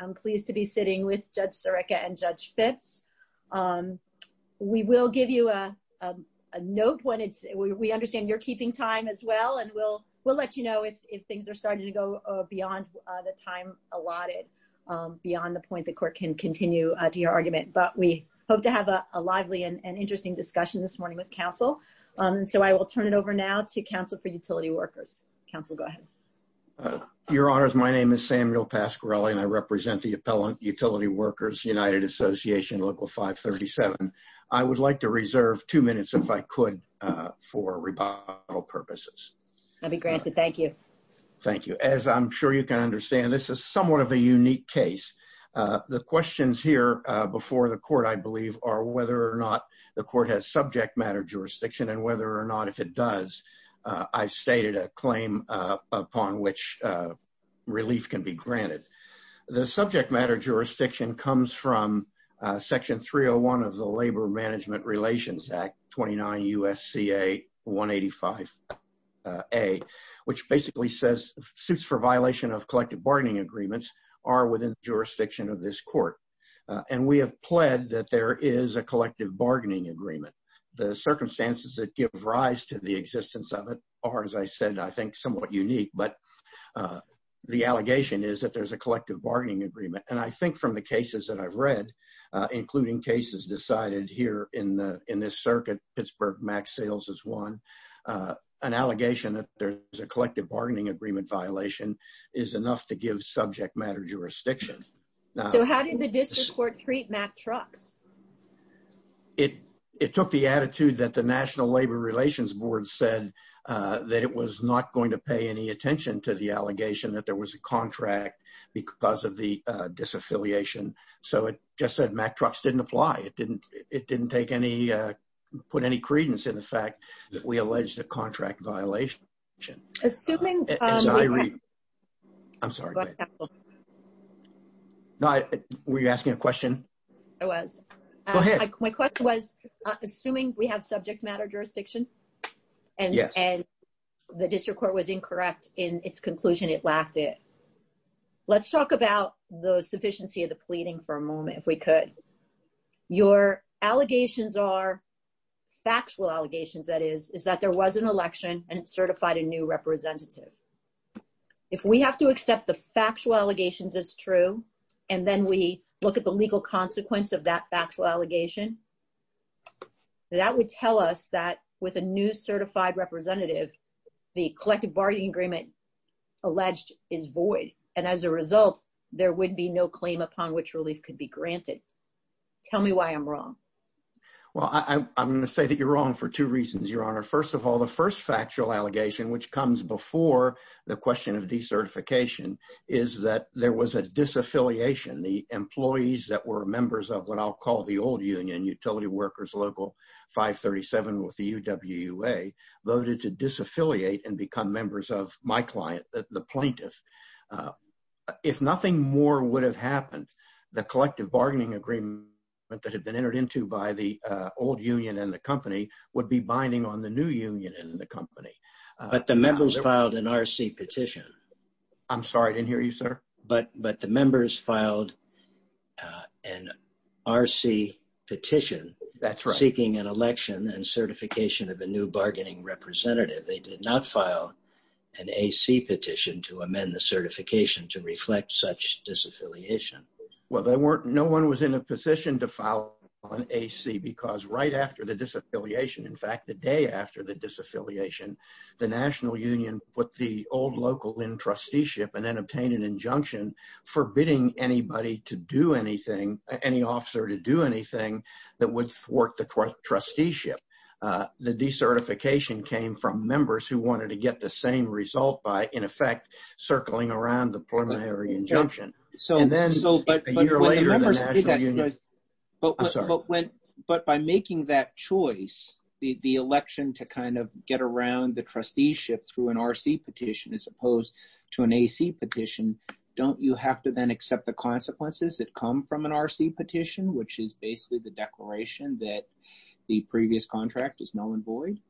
I'm pleased to be sitting with Judge Sirica and Judge Fitts. We will give you a note when it's, we understand you're keeping time as well and we'll let you know if things are starting to go beyond the time allotted, beyond the point the court can continue to your argument, but we hope to have a lively and interesting discussion this morning with counsel. So I will turn it over now to counsel for utility workers. Counsel, go ahead. Your honors, my name is Samuel Pasquarelli and I represent the appellant utility workers United Association Local 537. I would like to reserve two minutes if I could for rebuttal purposes. That'd be granted, thank you. Thank you. As I'm sure you can understand, this is somewhat of a unique case. The questions here before the court, I believe, are whether or not the court has subject matter jurisdiction and whether or not if it does, I've stated a claim upon which relief can be granted. The subject matter jurisdiction comes from Section 301 of the Labor Management Relations Act, 29 U.S.C.A. 185a, which basically says, suits for violation of collective bargaining agreements are within the jurisdiction of this court. And we have pled that there is a collective bargaining agreement. The circumstances that give rise to the existence of it are, as I said, I think, somewhat unique. But the allegation is that there's a collective bargaining agreement. And I think from the cases that I've read, including cases decided here in this circuit, Pittsburgh Max Sales is one. An allegation that there's a collective bargaining agreement violation is enough to give subject matter jurisdiction. So how did the district court treat Mack Trucks? It took the attitude that the National Labor Relations Board said that it was not going to pay any attention to the allegation that there was a contract because of the disaffiliation. So it just said Mack Trucks didn't apply. It didn't take any, put any credence in the fact that we alleged a contract violation. Assuming... I'm sorry. Were you asking a question? I was. Go ahead. My question was, assuming we have subject matter jurisdiction and the district court was incorrect in its conclusion, it lacked it. Let's talk about the sufficiency of the pleading for a moment, if we could. Your allegations are factual allegations, that is, is that there was an election and certified a new representative. If we have to accept the factual allegations as true, and then we look at the legal consequence of that factual allegation, that would tell us that with a new certified representative, the collective bargaining agreement alleged is void. And as a result, there would be no claim upon which relief could be granted. Tell me why I'm wrong. Well, I'm going to say that you're wrong for two reasons, Your Honor. First of all, the first factual allegation, which comes before the question of decertification, is that there was a disaffiliation. The employees that were members of what I'll call the old union, Utility Workers Local 537 with the UWUA, voted to disaffiliate and become members of my client, the plaintiff. If nothing more would have happened, the collective bargaining agreement that had been entered into by the old union and the company would be binding on the new union and the company. But the members filed an RC petition. I'm sorry, I didn't hear you, sir. But the members filed an RC petition seeking an election and certification of a new bargaining representative. They did not file an AC petition to amend the certification to reflect such disaffiliation. Well, they weren't, no one was in a position to file an AC because right after the disaffiliation, in fact, the day after the disaffiliation, the national union put the old local in trusteeship and then obtained an injunction forbidding anybody to do anything, any officer to do anything that would thwart the trusteeship. The decertification came from members who wanted to get the same result by in effect circling around the preliminary injunction. So, but by making that choice, the election to kind of get around the trusteeship through an RC petition as opposed to an AC petition, don't you have to then accept the consequences that come from an RC petition, which is basically the declaration that the previous contract is null and void?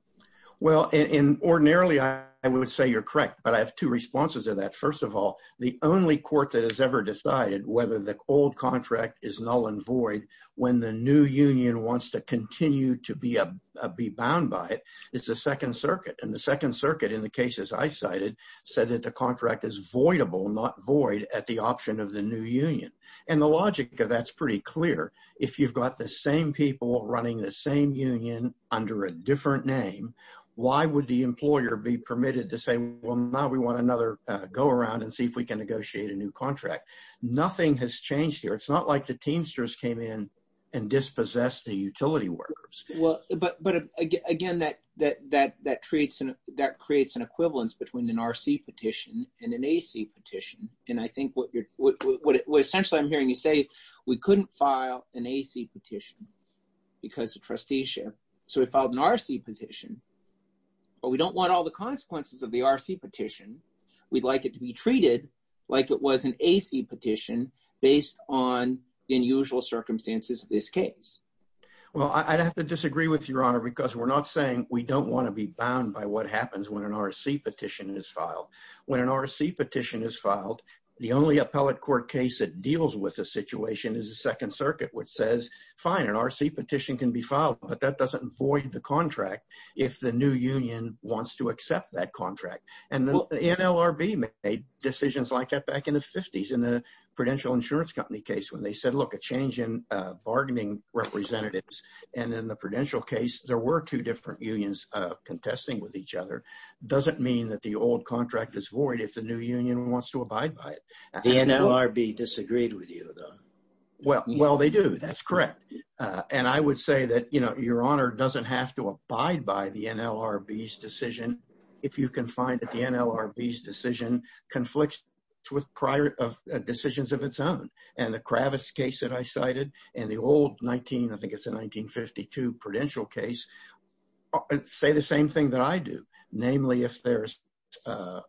Well, ordinarily I would say you're correct, but I have two responses to that. First of all, the only court that has ever decided whether the old contract is null and void when the new union wants to continue to be a, be bound by it, it's the second circuit and the second circuit in the cases I cited said that the contract is voidable, not void at the option of the new union. And the logic of that's pretty clear. If you've got the same people running the same union under a different name, why would the employer be permitted to say, well, now we want another go around and see if we can negotiate a new contract. Nothing has changed here. It's not like the teamsters came in and dispossessed the utility workers. Well, but again, that creates an equivalence between an RC petition and an AC petition. And I think what essentially I'm hearing you say, we couldn't file an AC petition because of trusteeship. So we filed an RC petition, but we don't want all the consequences of the RC petition. We'd like it to be treated like it was an AC petition based on the unusual circumstances of this case. Well, I'd have to disagree with your honor because we're not saying we don't want to be bound by what happens when an RC petition is filed. When an RC petition is filed, the only appellate court case that deals with a situation is Second Circuit, which says, fine, an RC petition can be filed, but that doesn't void the contract if the new union wants to accept that contract. And the NLRB made decisions like that back in the 50s in the Prudential Insurance Company case when they said, look, a change in bargaining representatives. And in the Prudential case, there were two different unions contesting with each other. Doesn't mean that the old contract is void if the new union wants to abide by it. The NLRB disagreed with you, though. Well, they do. That's correct. And I would say that, you know, your honor doesn't have to abide by the NLRB's decision if you can find that the NLRB's decision conflicts with decisions of its own. And the Kravitz case that I cited and the old 19, I think it's a 1952 Prudential case, say the same thing that I do, namely, if there's a,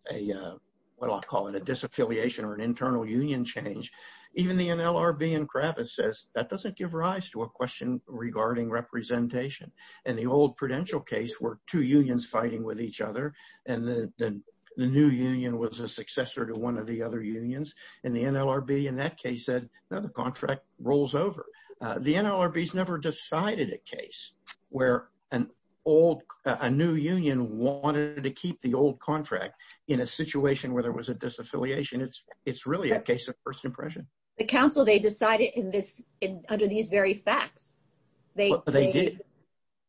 what I'll call it, a disaffiliation or an internal union change, even the NLRB and Kravitz says that doesn't give rise to a question regarding representation. And the old Prudential case were two unions fighting with each other, and the new union was a successor to one of the other unions, and the NLRB in that case said, no, the contract rolls over. The NLRB's never decided a case where an old, a new union wanted to keep the old contract in a situation where there was a disaffiliation. It's really a case of first impression. The counsel, they decided in this, under these very facts. They did.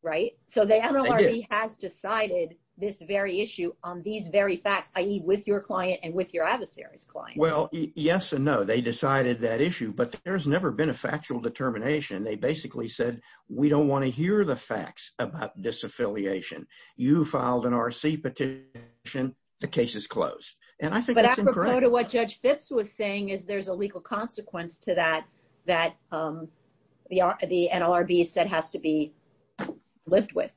Right? So the NLRB has decided this very issue on these very facts, i.e. with your client and with your adversary's client. Well, yes and no, they decided that issue, but there's never been a factual determination. They basically said, we don't want to hear the facts about disaffiliation. You filed an RC petition, the case is closed. And I think that's incorrect. But what Judge Fitz was saying is there's a legal consequence to that, that the NLRB said has to be lived with.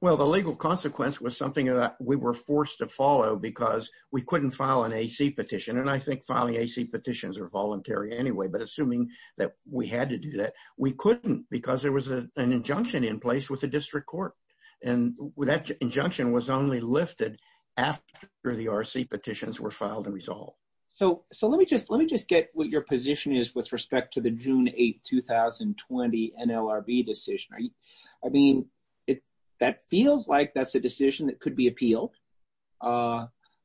Well, the legal consequence was something that we were forced to follow because we couldn't file an AC petition, and I think filing AC petitions are voluntary anyway, but assuming that we had to do that, we couldn't because there was an injunction in place with the That injunction was only lifted after the RC petitions were filed and resolved. So let me just get what your position is with respect to the June 8, 2020 NLRB decision. I mean, that feels like that's a decision that could be appealed.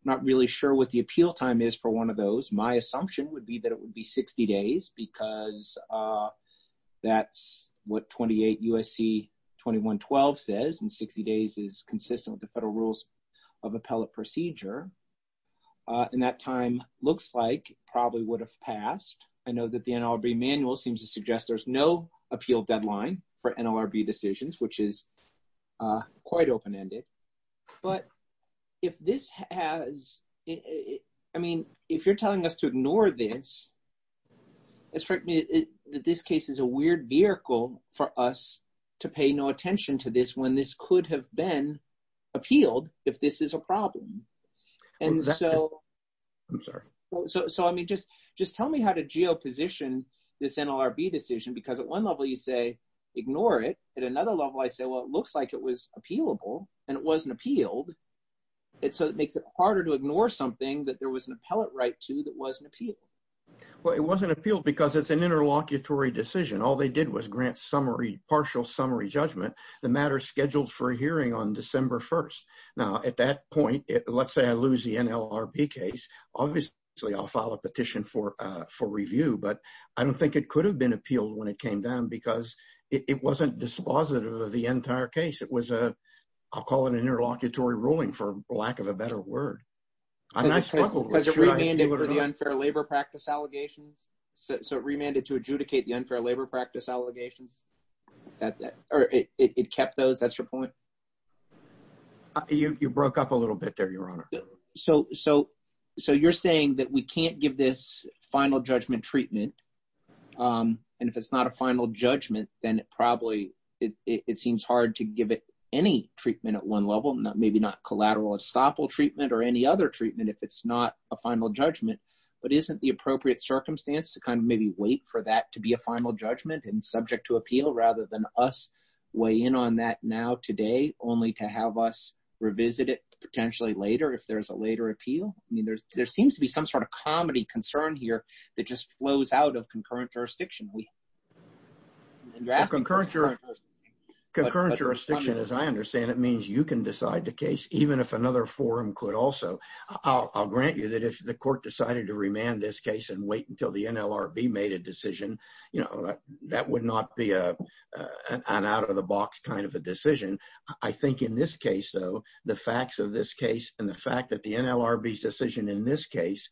Not really sure what the appeal time is for one of those. My assumption would be that it would be 60 days because that's what 28 U.S.C. 2112 says and 60 days is consistent with the Federal Rules of Appellate Procedure, and that time looks like it probably would have passed. I know that the NLRB manual seems to suggest there's no appeal deadline for NLRB decisions, which is quite open-ended. But if this has, I mean, if you're telling us to ignore this, it strikes me that this case is a weird vehicle for us to pay no attention to this when this could have been appealed if this is a problem. And so, I mean, just tell me how to geoposition this NLRB decision because at one level you say ignore it, at another level I say, well, it looks like it was appealable and it wasn't appealed. So it makes it harder to ignore something that there was an appellate right to that wasn't appealed. Well, it wasn't appealed because it's an interlocutory decision. All they did was grant partial summary judgment. The matter is scheduled for a hearing on December 1st. Now, at that point, let's say I lose the NLRB case, obviously I'll file a petition for review, but I don't think it could have been appealed when it came down because it wasn't dispositive of the entire case. It was a, I'll call it an interlocutory ruling for lack of a better word. I'm not sure. Because it remanded for the unfair labor practice allegations. So it remanded to adjudicate the unfair labor practice allegations. It kept those, that's your point? You broke up a little bit there, your honor. So you're saying that we can't give this final judgment treatment and if it's not a final judgment, then it probably, it seems hard to give it any treatment at one level, maybe not collateral or SOPL treatment or any other treatment if it's not a final judgment. But isn't the appropriate circumstance to kind of maybe wait for that to be a final judgment and subject to appeal rather than us weigh in on that now today only to have us revisit it potentially later if there's a later appeal? I mean, there seems to be some sort of comedy concern here that just flows out of concurrent jurisdiction. Concurrent jurisdiction, as I understand it, means you can decide the case even if another forum could also. I'll grant you that if the court decided to remand this case and wait until the NLRB made a decision, that would not be an out of the box kind of a decision. I think in this case, though, the facts of this case and the fact that the NLRB's decision in this case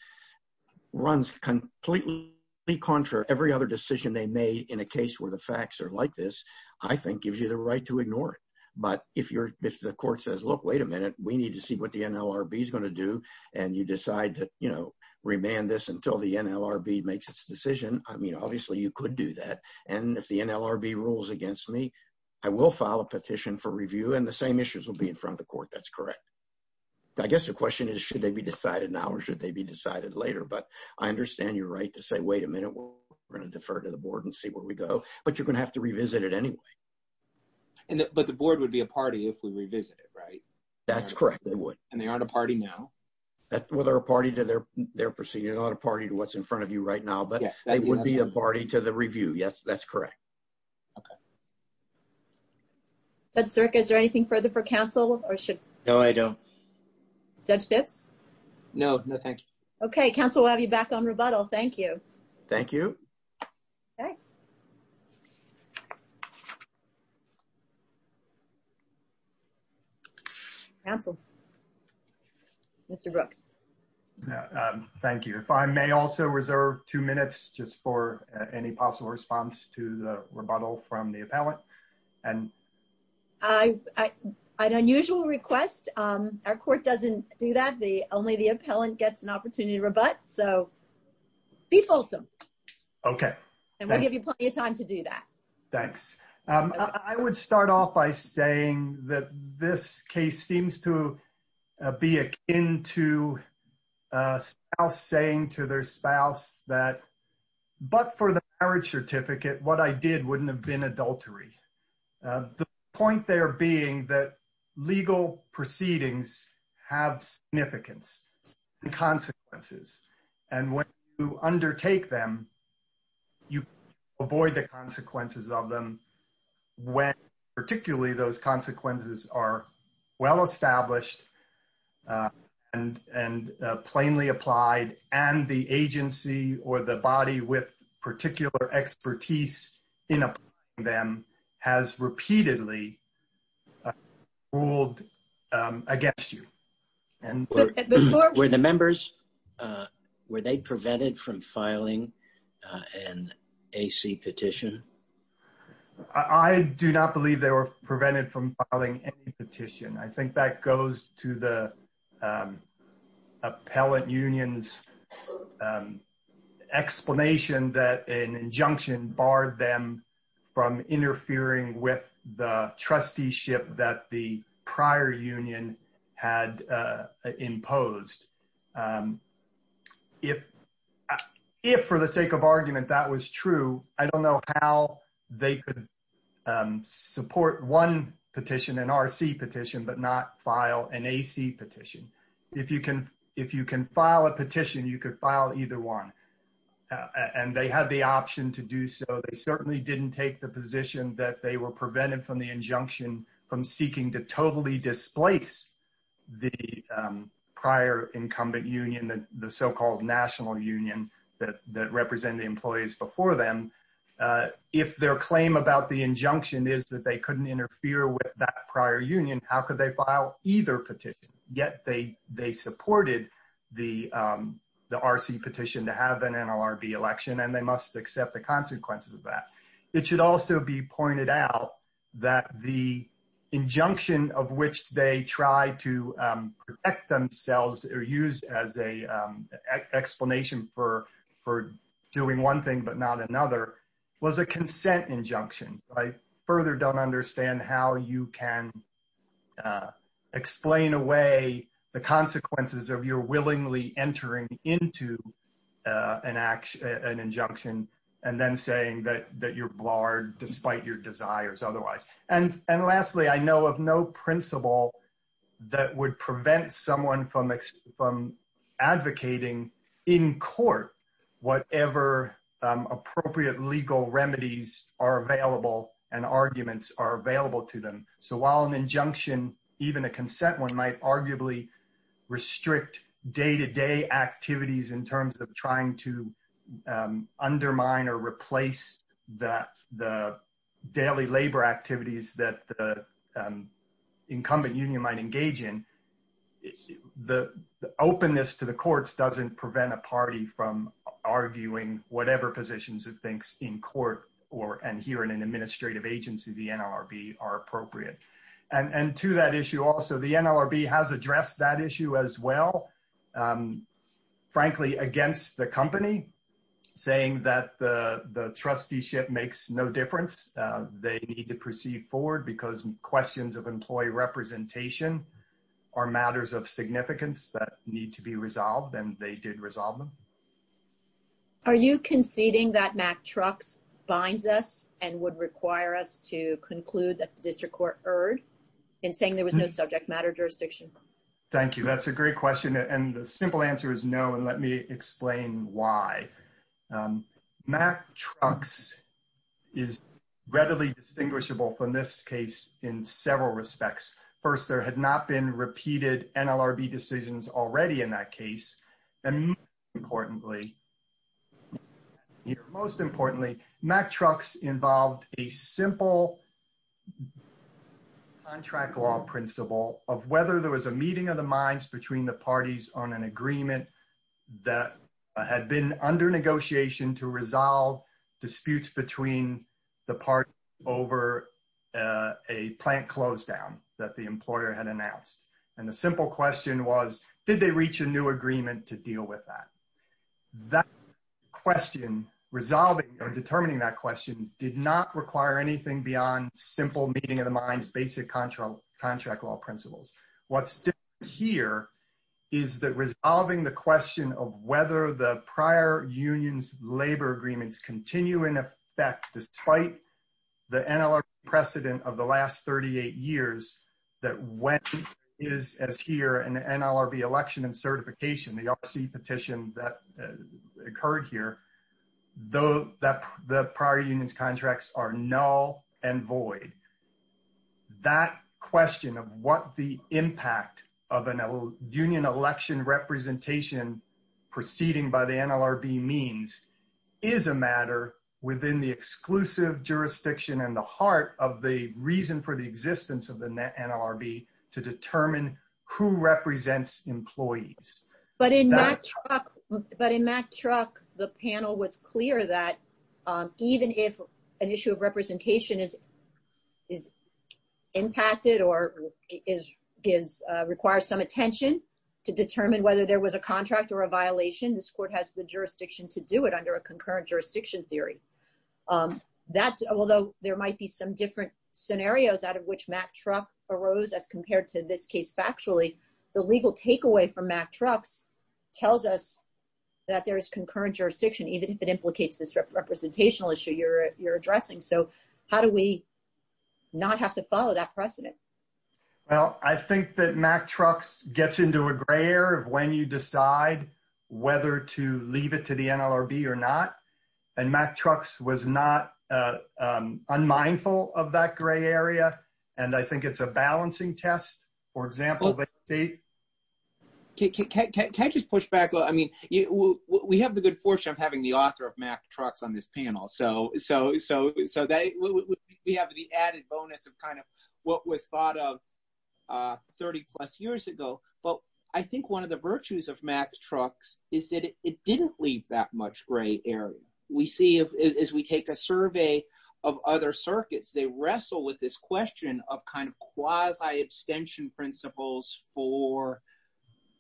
runs completely contrary to every other decision they made in a case where the facts are like this, I think gives you the right to ignore it. But if the court says, look, wait a minute, we need to see what the NLRB is going to do and you decide to remand this until the NLRB makes its decision, I mean, obviously you could do that. And if the NLRB rules against me, I will file a petition for review and the same issues will be in front of the court. That's correct. I guess the question is, should they be decided now or should they be decided later? But I understand you're right to say, wait a minute, we're going to defer to the board and see where we go. But you're going to have to revisit it anyway. But the board would be a party if we revisit it, right? That's correct. They would. And they aren't a party now? Well, they're a party to their proceeding. They're not a party to what's in front of you right now, but they would be a party to the review. Yes, that's correct. Okay. Judge Zirk, is there anything further for counsel or should- No, I don't. Judge Phipps? No. No, thank you. Okay. Counsel, we'll have you back on rebuttal. Thank you. Thank you. Okay. Counsel. Mr. Brooks. Thank you. If I may also reserve two minutes just for any possible response to the rebuttal from the appellate. An unusual request. Our court doesn't do that. Only the appellant gets an opportunity to rebut. So be fulsome. Okay. And we'll give you plenty of time to do that. Thanks. I would start off by saying that this case seems to be akin to a spouse saying to their The point there being that legal proceedings have significance and consequences. And when you undertake them, you avoid the consequences of them when particularly those consequences are well-established and plainly applied and the agency or the body with particular expertise in them has repeatedly ruled against you. Were the members, were they prevented from filing an AC petition? I do not believe they were prevented from filing any petition. I think that goes to the appellate union's explanation that an injunction barred them from interfering with the trusteeship that the prior union had imposed. If for the sake of argument that was true, I don't know how they could support one petition, an RC petition, but not file an AC petition. If you can file a petition, you could file either one. And they had the option to do so. They certainly didn't take the position that they were prevented from the injunction from seeking to totally displace the prior incumbent union, the so-called national union that represented the employees before them. If their claim about the injunction is that they couldn't interfere with that prior union, how could they file either petition? Yet they supported the RC petition to have an NLRB election, and they must accept the consequences of that. It should also be pointed out that the injunction of which they tried to protect themselves or use as an explanation for doing one thing but not another was a consent injunction. I further don't understand how you can explain away the consequences of your willingly entering into an injunction and then saying that you're barred despite your desires otherwise. And lastly, I know of no principle that would prevent someone from advocating in court whatever appropriate legal remedies are available and arguments are available to them. So while an injunction, even a consent one, might arguably restrict day-to-day activities in terms of trying to undermine or replace the daily labor activities that the incumbent union might engage in, the openness to the courts doesn't prevent a party from arguing whatever positions it thinks in court and here in an administrative agency, the NLRB, are appropriate. And to that issue also, the NLRB has addressed that issue as well. Frankly, against the company, saying that the trusteeship makes no difference. They need to proceed forward because questions of employee representation are matters of significance that need to be resolved and they did resolve them. Are you conceding that MACTrux binds us and would require us to conclude that the district court erred in saying there was no subject matter jurisdiction? Thank you. That's a great question. And the simple answer is no. And let me explain why. MACTrux is readily distinguishable from this case in several respects. First, there had not been repeated NLRB decisions already in that case. And most importantly, MACTrux involved a simple contract law principle of whether there was a meeting of the minds between the parties on an agreement that had been under negotiation to resolve disputes between the parties over a plant close down that the employer had announced. And the simple question was, did they reach a new agreement to deal with that? That question, resolving or determining that question, did not require anything beyond simple meeting of the minds, basic contract law principles. What's different here is that resolving the question of whether the prior union's labor agreements continue in effect despite the NLRB precedent of the last 38 years, that when it is as here in the NLRB election and certification, the RC petition that occurred here, the prior NLRB, that question of what the impact of a union election representation proceeding by the NLRB means is a matter within the exclusive jurisdiction and the heart of the reason for the existence of the NLRB to determine who represents employees. But in MACTrux, the panel was clear that even if an issue of representation is impacted or requires some attention to determine whether there was a contract or a violation, this court has the jurisdiction to do it under a concurrent jurisdiction theory. Although there might be some different scenarios out of which MACTrux arose as compared to this case factually, the legal takeaway from MACTrux tells us that there is concurrent jurisdiction, even if it implicates this representational issue you're addressing. So how do we not have to follow that precedent? Well, I think that MACTrux gets into a gray area of when you decide whether to leave it to the NLRB or not. And MACTrux was not unmindful of that gray area. And I think it's a balancing test, for example, that they... Can I just push back a little? I mean, we have the good fortune of having the author of MACTrux on this panel. So we have the added bonus of kind of what was thought of 30 plus years ago. But I think one of the virtues of MACTrux is that it didn't leave that much gray area. We see as we take a survey of other circuits, they wrestle with this question of kind of quasi-abstention principles for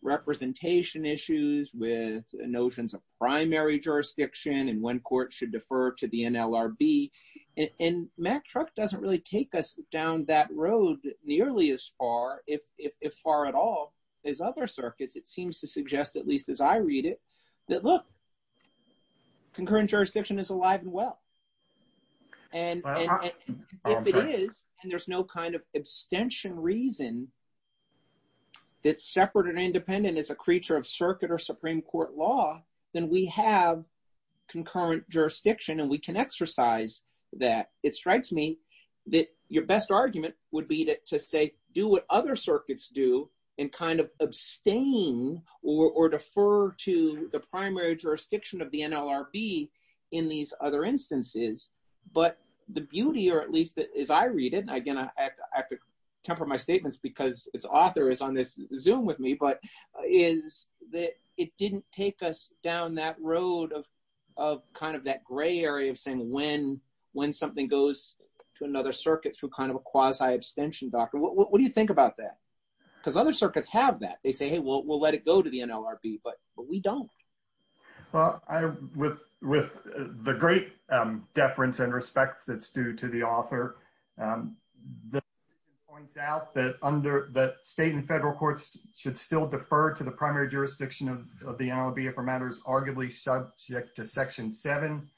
representation issues with notions of primary jurisdiction and when courts should defer to the NLRB. And MACTrux doesn't really take us down that road nearly as far, if far at all, as other circuits. It seems to suggest, at least as I read it, that look, concurrent jurisdiction is alive and well. And if it is, and there's no kind of abstention reason that's separate and independent as a creature of circuit or Supreme Court law, then we have concurrent jurisdiction and we can exercise that. It strikes me that your best the primary jurisdiction of the NLRB in these other instances, but the beauty, or at least as I read it, and again, I have to temper my statements because its author is on this Zoom with me, but is that it didn't take us down that road of kind of that gray area of saying when something goes to another circuit through kind of a quasi-abstention doctrine. What do you think about that? Because other circuits have that. They say, hey, we'll let it go to the NLRB, but we don't. Well, with the great deference and respect that's due to the author, the point out that state and federal courts should still defer to the primary jurisdiction of the NLRB for matters arguably subject to Section 7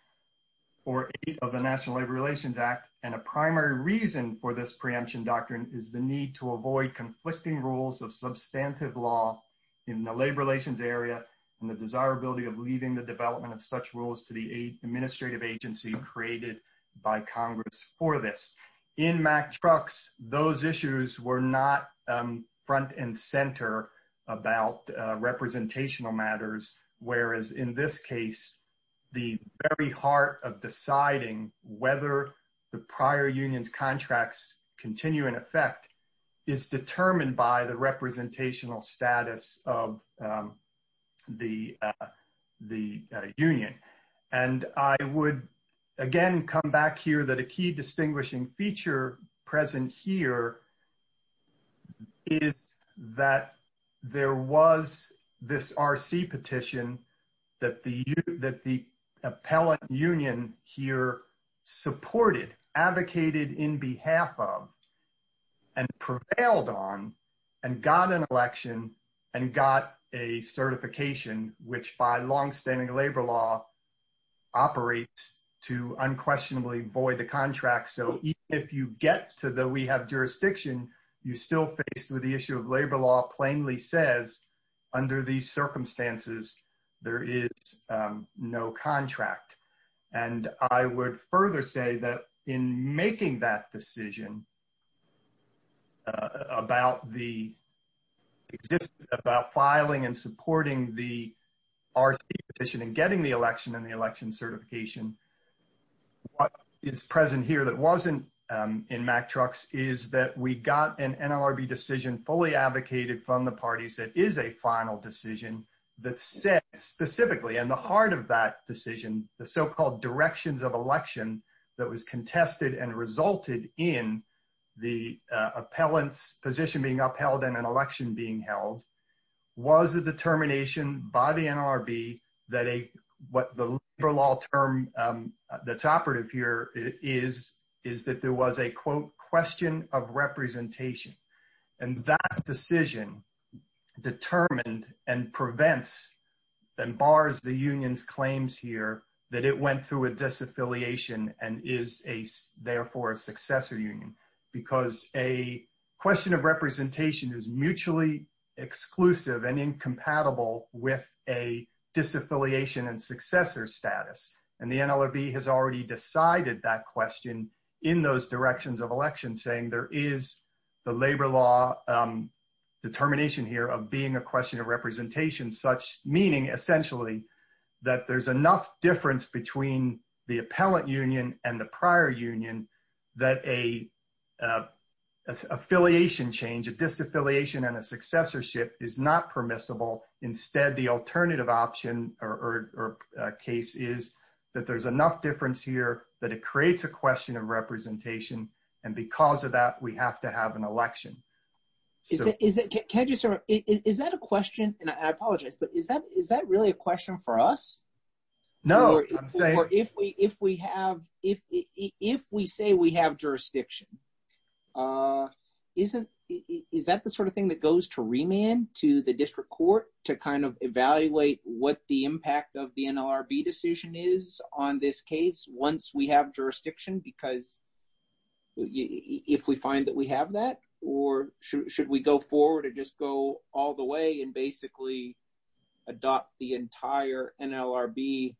or 8 of the National Labor Relations Act. And a primary reason for this preemption doctrine is the need to avoid conflicting rules of substantive law in the labor relations area and the desirability of leaving the development of such rules to the administrative agency created by Congress for this. In Mack Trucks, those issues were not front and center about representational matters, whereas in this case, the very heart of deciding whether the prior union's contracts continue in effect is determined by the representational status of the union. And I would, again, come back here that a key distinguishing feature present here is that there was this R.C. petition that the appellate union here supported, advocated in behalf of, and prevailed on, and got an election, and got a certification, which by longstanding labor law operates to unquestionably void the contract. So even if you get to the we have jurisdiction, you're still faced with the issue of labor law plainly says, under these circumstances, there is no contract. And I would further say that in making that decision about filing and supporting the R.C. petition and getting the election and the election fully advocated from the parties that is a final decision that said specifically in the heart of that decision, the so-called directions of election that was contested and resulted in the appellant's position being upheld and an election being held was a determination by the NRB that what the labor law term that's operative here is that there was a, quote, question of union. And that decision determined and prevents and bars the union's claims here that it went through a disaffiliation and is a, therefore, a successor union. Because a question of representation is mutually exclusive and incompatible with a disaffiliation and successor status. And the NRB has already decided that question in those directions of election, saying there is the labor law determination here of being a question of representation, such meaning, essentially, that there's enough difference between the appellant union and the prior union that a affiliation change, a disaffiliation and a successorship is not permissible. Instead, the alternative option or case is that there's enough difference here that it creates a question of representation. And because of that, we have to have an election. Is that a question, and I apologize, but is that really a question for us? No, I'm saying. Or if we say we have jurisdiction, is that the sort of thing that goes to remand to the district court to kind of evaluate what the impact of the NLRB decision is on this case once we have jurisdiction? Because if we find that we have that, or should we go forward and just go all the way and basically adopt the entire NLRB,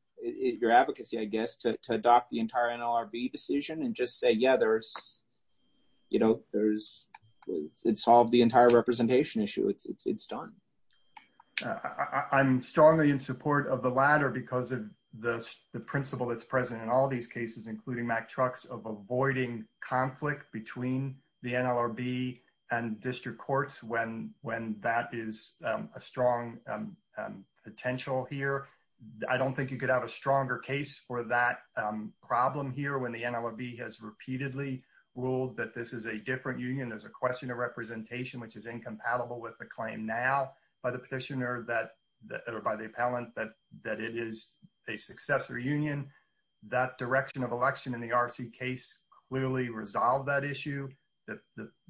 your advocacy, I guess, to adopt the entire NLRB decision and just say, yeah, it solved the entire representation issue. It's done. I'm strongly in support of the latter because of the principle that's present in all these cases, including Mack Trucks, of avoiding conflict between the NLRB and district courts when that is a strong potential here. I don't think you could have a stronger case for that problem here when the NLRB has repeatedly ruled that this is a different union. There's a question of representation, which is incompatible with the claim now by the petitioner or by the appellant that it is a successor union. That direction of election in the RC case clearly resolved that issue.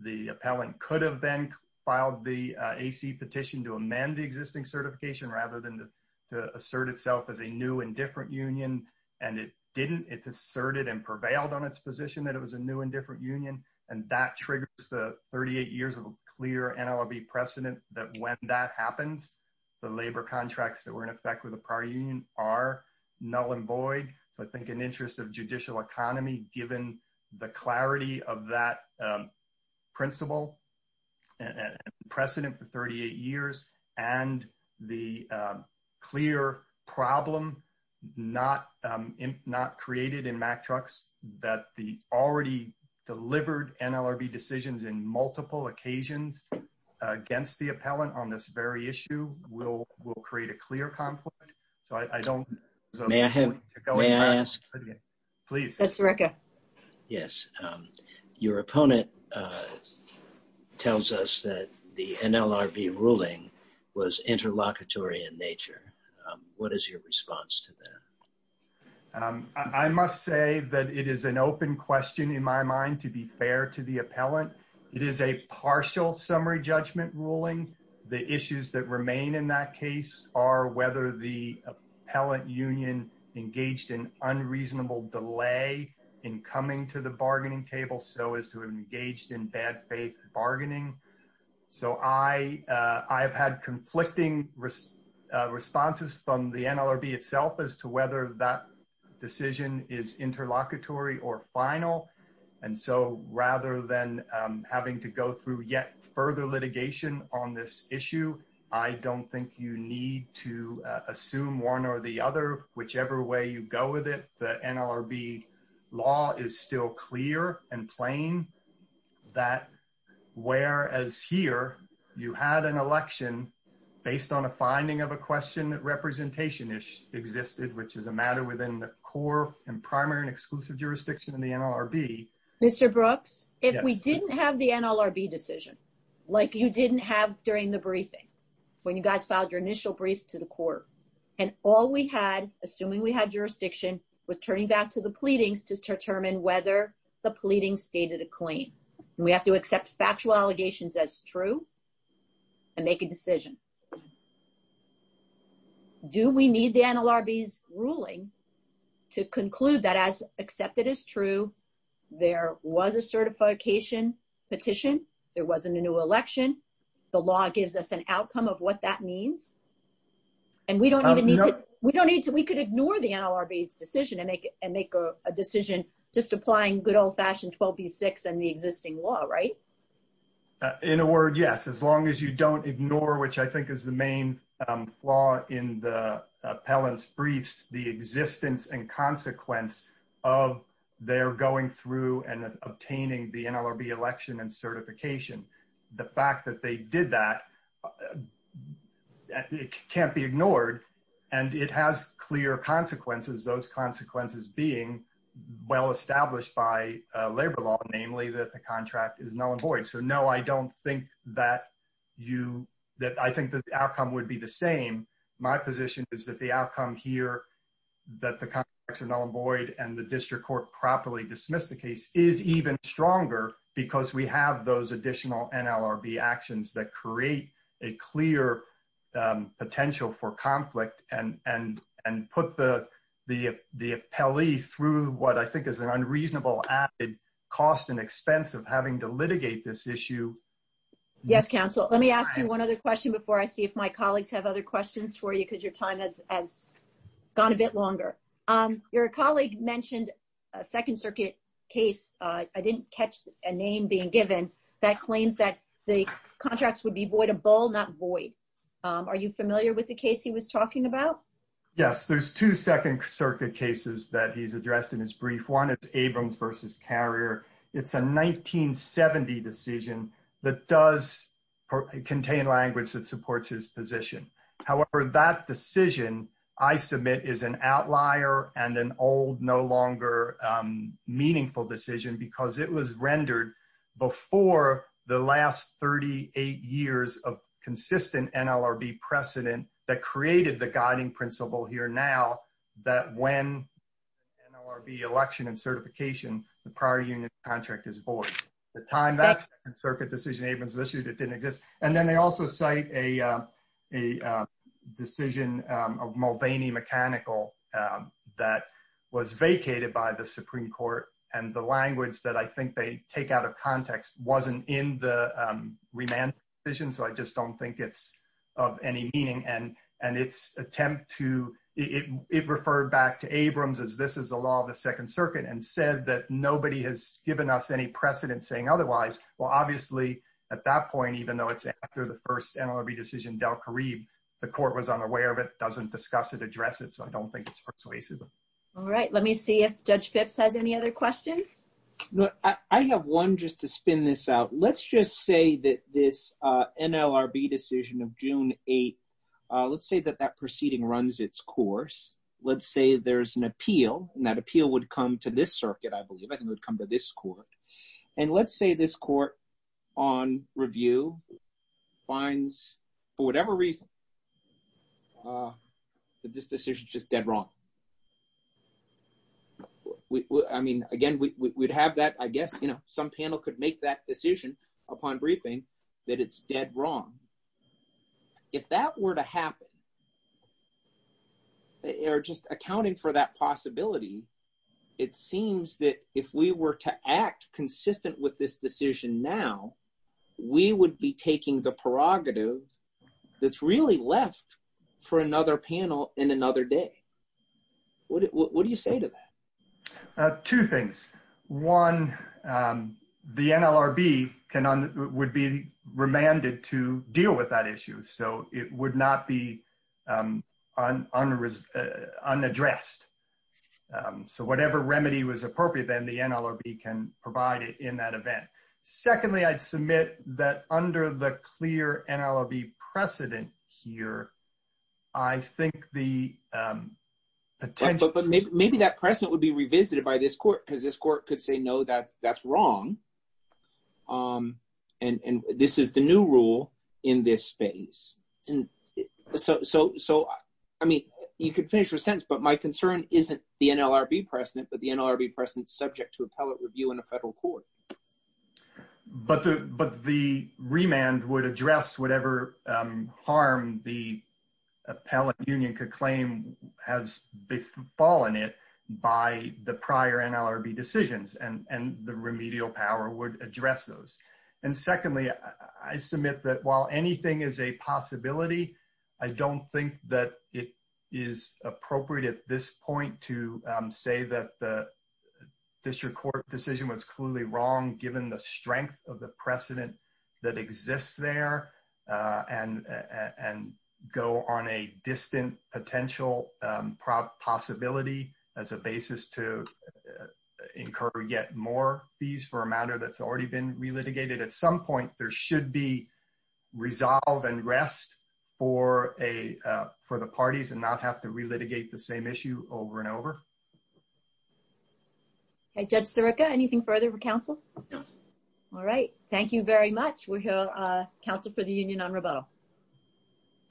The appellant could have then filed the AC petition to amend the existing certification rather than to assert itself as a new and different union. It asserted and prevailed on its position that it was a new and different union. That triggers the 38 years of clear NLRB precedent that when that happens, the labor contracts that were in effect with the prior union are null and void. I think in the interest of judicial economy, given the clarity of that principle and precedent for 38 years and the clear problem not created in Mack Trucks, that the already delivered NLRB decisions in multiple occasions against the appellant on this very issue will create a clear conflict. So I don't... May I ask? Please. Yes. Your opponent tells us that the NLRB ruling was interlocutory in nature. What is your response to that? I must say that it is an open question in my mind to be fair to the appellant. It is a partial summary judgment ruling. The issues that remain in that case are whether the appellant union engaged in unreasonable delay in coming to the bargaining table so as to engage in bad faith bargaining. So I've had conflicting responses from the NLRB itself as to whether that decision is interlocutory or final. And so rather than having to go through yet further litigation on this issue, I don't think you need to assume one or the other. Whichever way you go with it, the NLRB law is still clear and plain that whereas here you had an election based on a finding of a question that representation existed, which is a matter within the core and primary and exclusive jurisdiction of the NLRB... Mr. Brooks, if we didn't have the NLRB decision like you didn't have during the briefing when you guys filed your initial briefs to the court and all we had, assuming we had jurisdiction, was turning back to the pleadings to determine whether the pleading stated a claim. We have to accept factual allegations as true and make a decision. Do we need the NLRB's ruling to conclude that as a result of the certification petition, there wasn't a new election, the law gives us an outcome of what that means? And we could ignore the NLRB's decision and make a decision just applying good old-fashioned 12B6 and the existing law, right? In a word, yes, as long as you don't ignore, which I think is the main flaw in the appellant's briefs, the existence and consequence of their going through and obtaining the NLRB election and certification. The fact that they did that, it can't be ignored and it has clear consequences, those consequences being well established by labor law, namely that the contract is null and void. So no, I don't think that you, that I think the outcome would be the same. My position is that the outcome here, that the contracts are null and void and the district court properly dismissed the case is even stronger because we have those additional NLRB actions that create a clear potential for conflict and put the appellee through what I think is an unreasonable added cost and expense of having to litigate this issue. Yes, counsel. Let me ask you one other question before I see if my colleagues have other questions for you because your time has gone a bit longer. Your colleague mentioned a second circuit case. I didn't catch a name being given that claims that the contracts would be voidable, not void. Are you familiar with the case he was talking about? Yes, there's two second circuit cases that he's addressed in his brief. One is a 1970 decision that does contain language that supports his position. However, that decision I submit is an outlier and an old, no longer meaningful decision because it was rendered before the last 38 years of consistent NLRB precedent that created the guiding principle here now that when NLRB election and certification, the prior union contract is void. The time that second circuit decision Abrams listed, it didn't exist. And then they also cite a decision of Mulvaney mechanical that was vacated by the Supreme Court and the language that I think they take out of context wasn't in the remand decision. So I just don't think it's of any meaning. And it's attempt to, it referred back to Abrams as this is the law of the second circuit and said that nobody has given us any precedent saying otherwise. Well, obviously at that point, even though it's after the first NLRB decision, Del Caribe, the court was unaware of it, doesn't discuss it, address it. So I don't think it's persuasive. All right. Let me see if judge Phipps has any other questions. I have one just to spin this out. Let's just say that this NLRB decision of June 8th, let's say that that proceeding runs its course. Let's say there's an appeal and that appeal would come to this circuit, I believe, I think would come to this court. And let's say this court on review finds for whatever reason that this decision is just dead wrong. I mean, again, we'd have that, I guess, you know, some panel could make that decision upon briefing that it's dead wrong. If that were to happen, or just accounting for that possibility, it seems that if we were to act consistent with this decision now, we would be taking the prerogative that's really left for another panel in another day. What do you say to that? Two things. One, the NLRB would be remanded to deal with that issue. So it would not be unaddressed. So whatever remedy was appropriate, then the NLRB can provide it in that event. Secondly, I'd submit that under the clear NLRB precedent here, I think the... But maybe that precedent would be revisited by this court because this court could say, no, that's wrong. And this is the new rule in this space. So, I mean, you could finish your sentence, but my concern isn't the NLRB precedent, but the NLRB precedent subject to appellate review in a federal court. But the remand would address whatever harm the appellate union could claim has befallen it by the prior NLRB decisions and the remedial power would address those. And secondly, I submit that while anything is a possibility, I don't think that it is appropriate at this point to say that the district court decision was clearly wrong, given the strength of the precedent that exists there and go on a distant potential possibility as a basis to incur yet more fees for a matter that's already been relitigated. At some point, there should be resolve and rest for the parties and not have to relitigate the same issue over and over. Okay, Judge Sirica, anything further for counsel? No. All right. Thank you very much. We'll hear counsel for the union on rebuttal.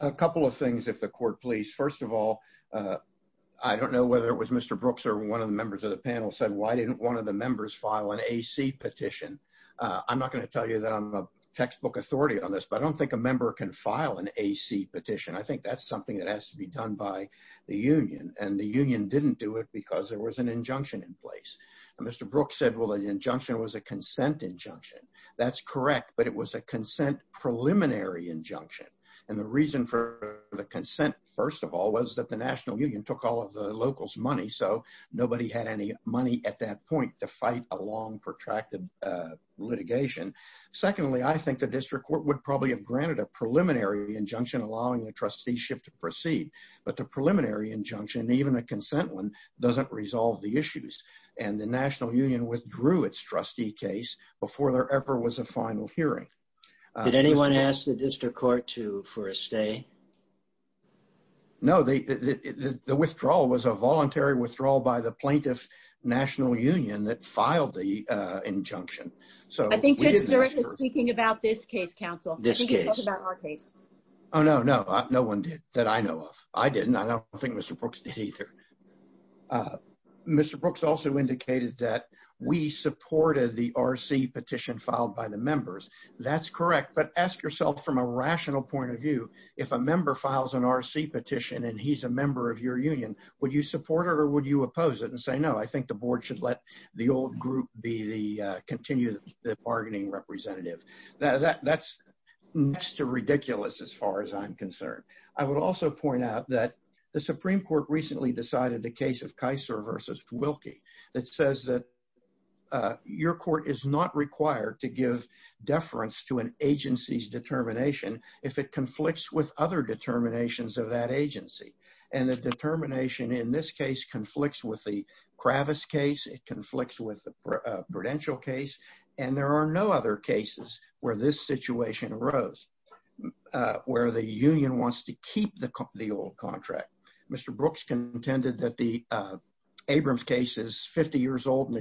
A couple of things if the court please. First of all, I don't know whether it was Mr. Brooks or one of the members of the panel said, why didn't one of the members file an AC petition? I'm not going to tell you that I'm a textbook authority on this, but I don't think a member can file an AC petition. I think that's something that has to be done by the union and the union didn't do it because there was an injunction in place. And Mr. Brooks said, well, the injunction was a consent injunction. That's correct, but it was a consent preliminary injunction. And the reason for the consent, first of all, was that the national union took all of the locals' money. So nobody had any money at that point to fight a long protracted litigation. Secondly, I think the district court would probably have granted a preliminary injunction, allowing the trusteeship to proceed. But the preliminary injunction, even a consent one, doesn't resolve the issues. And the national union withdrew its trustee case before there ever was a final hearing. Did anyone ask the district court for a stay? No, the withdrawal was a voluntary withdrawal by the plaintiff's national union that filed the injunction. I think Mr. Brooks is speaking about this case, counsel. I think he's talking about our case. Oh, no, no. No one did that I know of. I didn't. I don't think Mr. Brooks did either. Mr. Brooks also indicated that we supported the RC petition filed by the members. That's correct. But ask yourself from a rational point of view, if a member files an RC petition and he's a member of your union, would you support it or would you oppose it and say, no, I think the board should let the old group be the continued bargaining representative. That's next to ridiculous as far as I'm concerned. I would also point out that the Supreme Court recently decided the case of Kiser versus Wilkie that says that your court is not required to give deference to an agency's determination if it conflicts with other determinations of that agency. And the determination in this case conflicts with the Kravis case. It conflicts with the Prudential case. And there are no other cases where this situation arose, where the union wants to keep the old contract. Mr. Brooks contended that the Abrams case is reaffirmed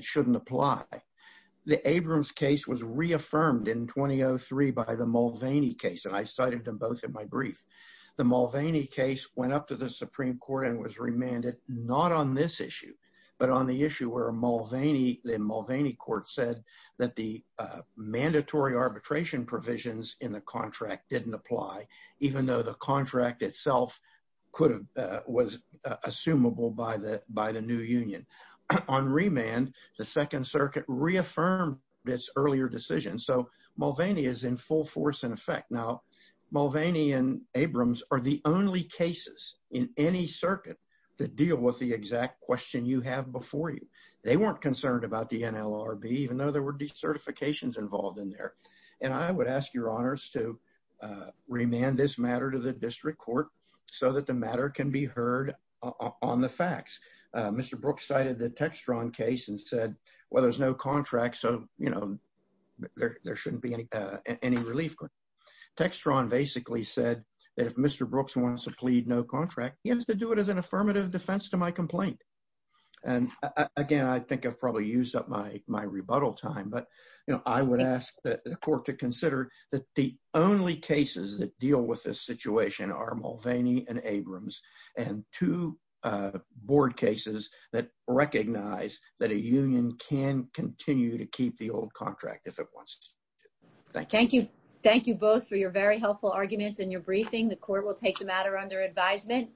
in 2003 by the Mulvaney case, and I cited them both in my brief. The Mulvaney case went up to the Supreme Court and was remanded not on this issue, but on the issue where Mulvaney, the Mulvaney court said that the mandatory arbitration provisions in the contract didn't apply, even though the contract itself could have, was assumable by the new union. On remand, the Second Circuit reaffirmed its earlier decision. So Mulvaney is in full force and effect. Now, Mulvaney and Abrams are the only cases in any circuit that deal with the exact question you have before you. They weren't concerned about the NLRB, even though there were certifications involved in there. And I would ask your honors to remand this matter to the district court so that the matter can be heard on the facts. Mr. Brooks cited the Textron case and said, well, there's no contract, so there shouldn't be any relief. Textron basically said that if Mr. Brooks wants to plead no contract, he has to do it as an affirmative defense to my complaint. And again, I think I've probably used up my rebuttal time, but I would ask the court to remand Mulvaney and Abrams and two board cases that recognize that a union can continue to keep the old contract if it wants to. Thank you. Thank you both for your very helpful arguments and your briefing. The court will take the matter under advisement.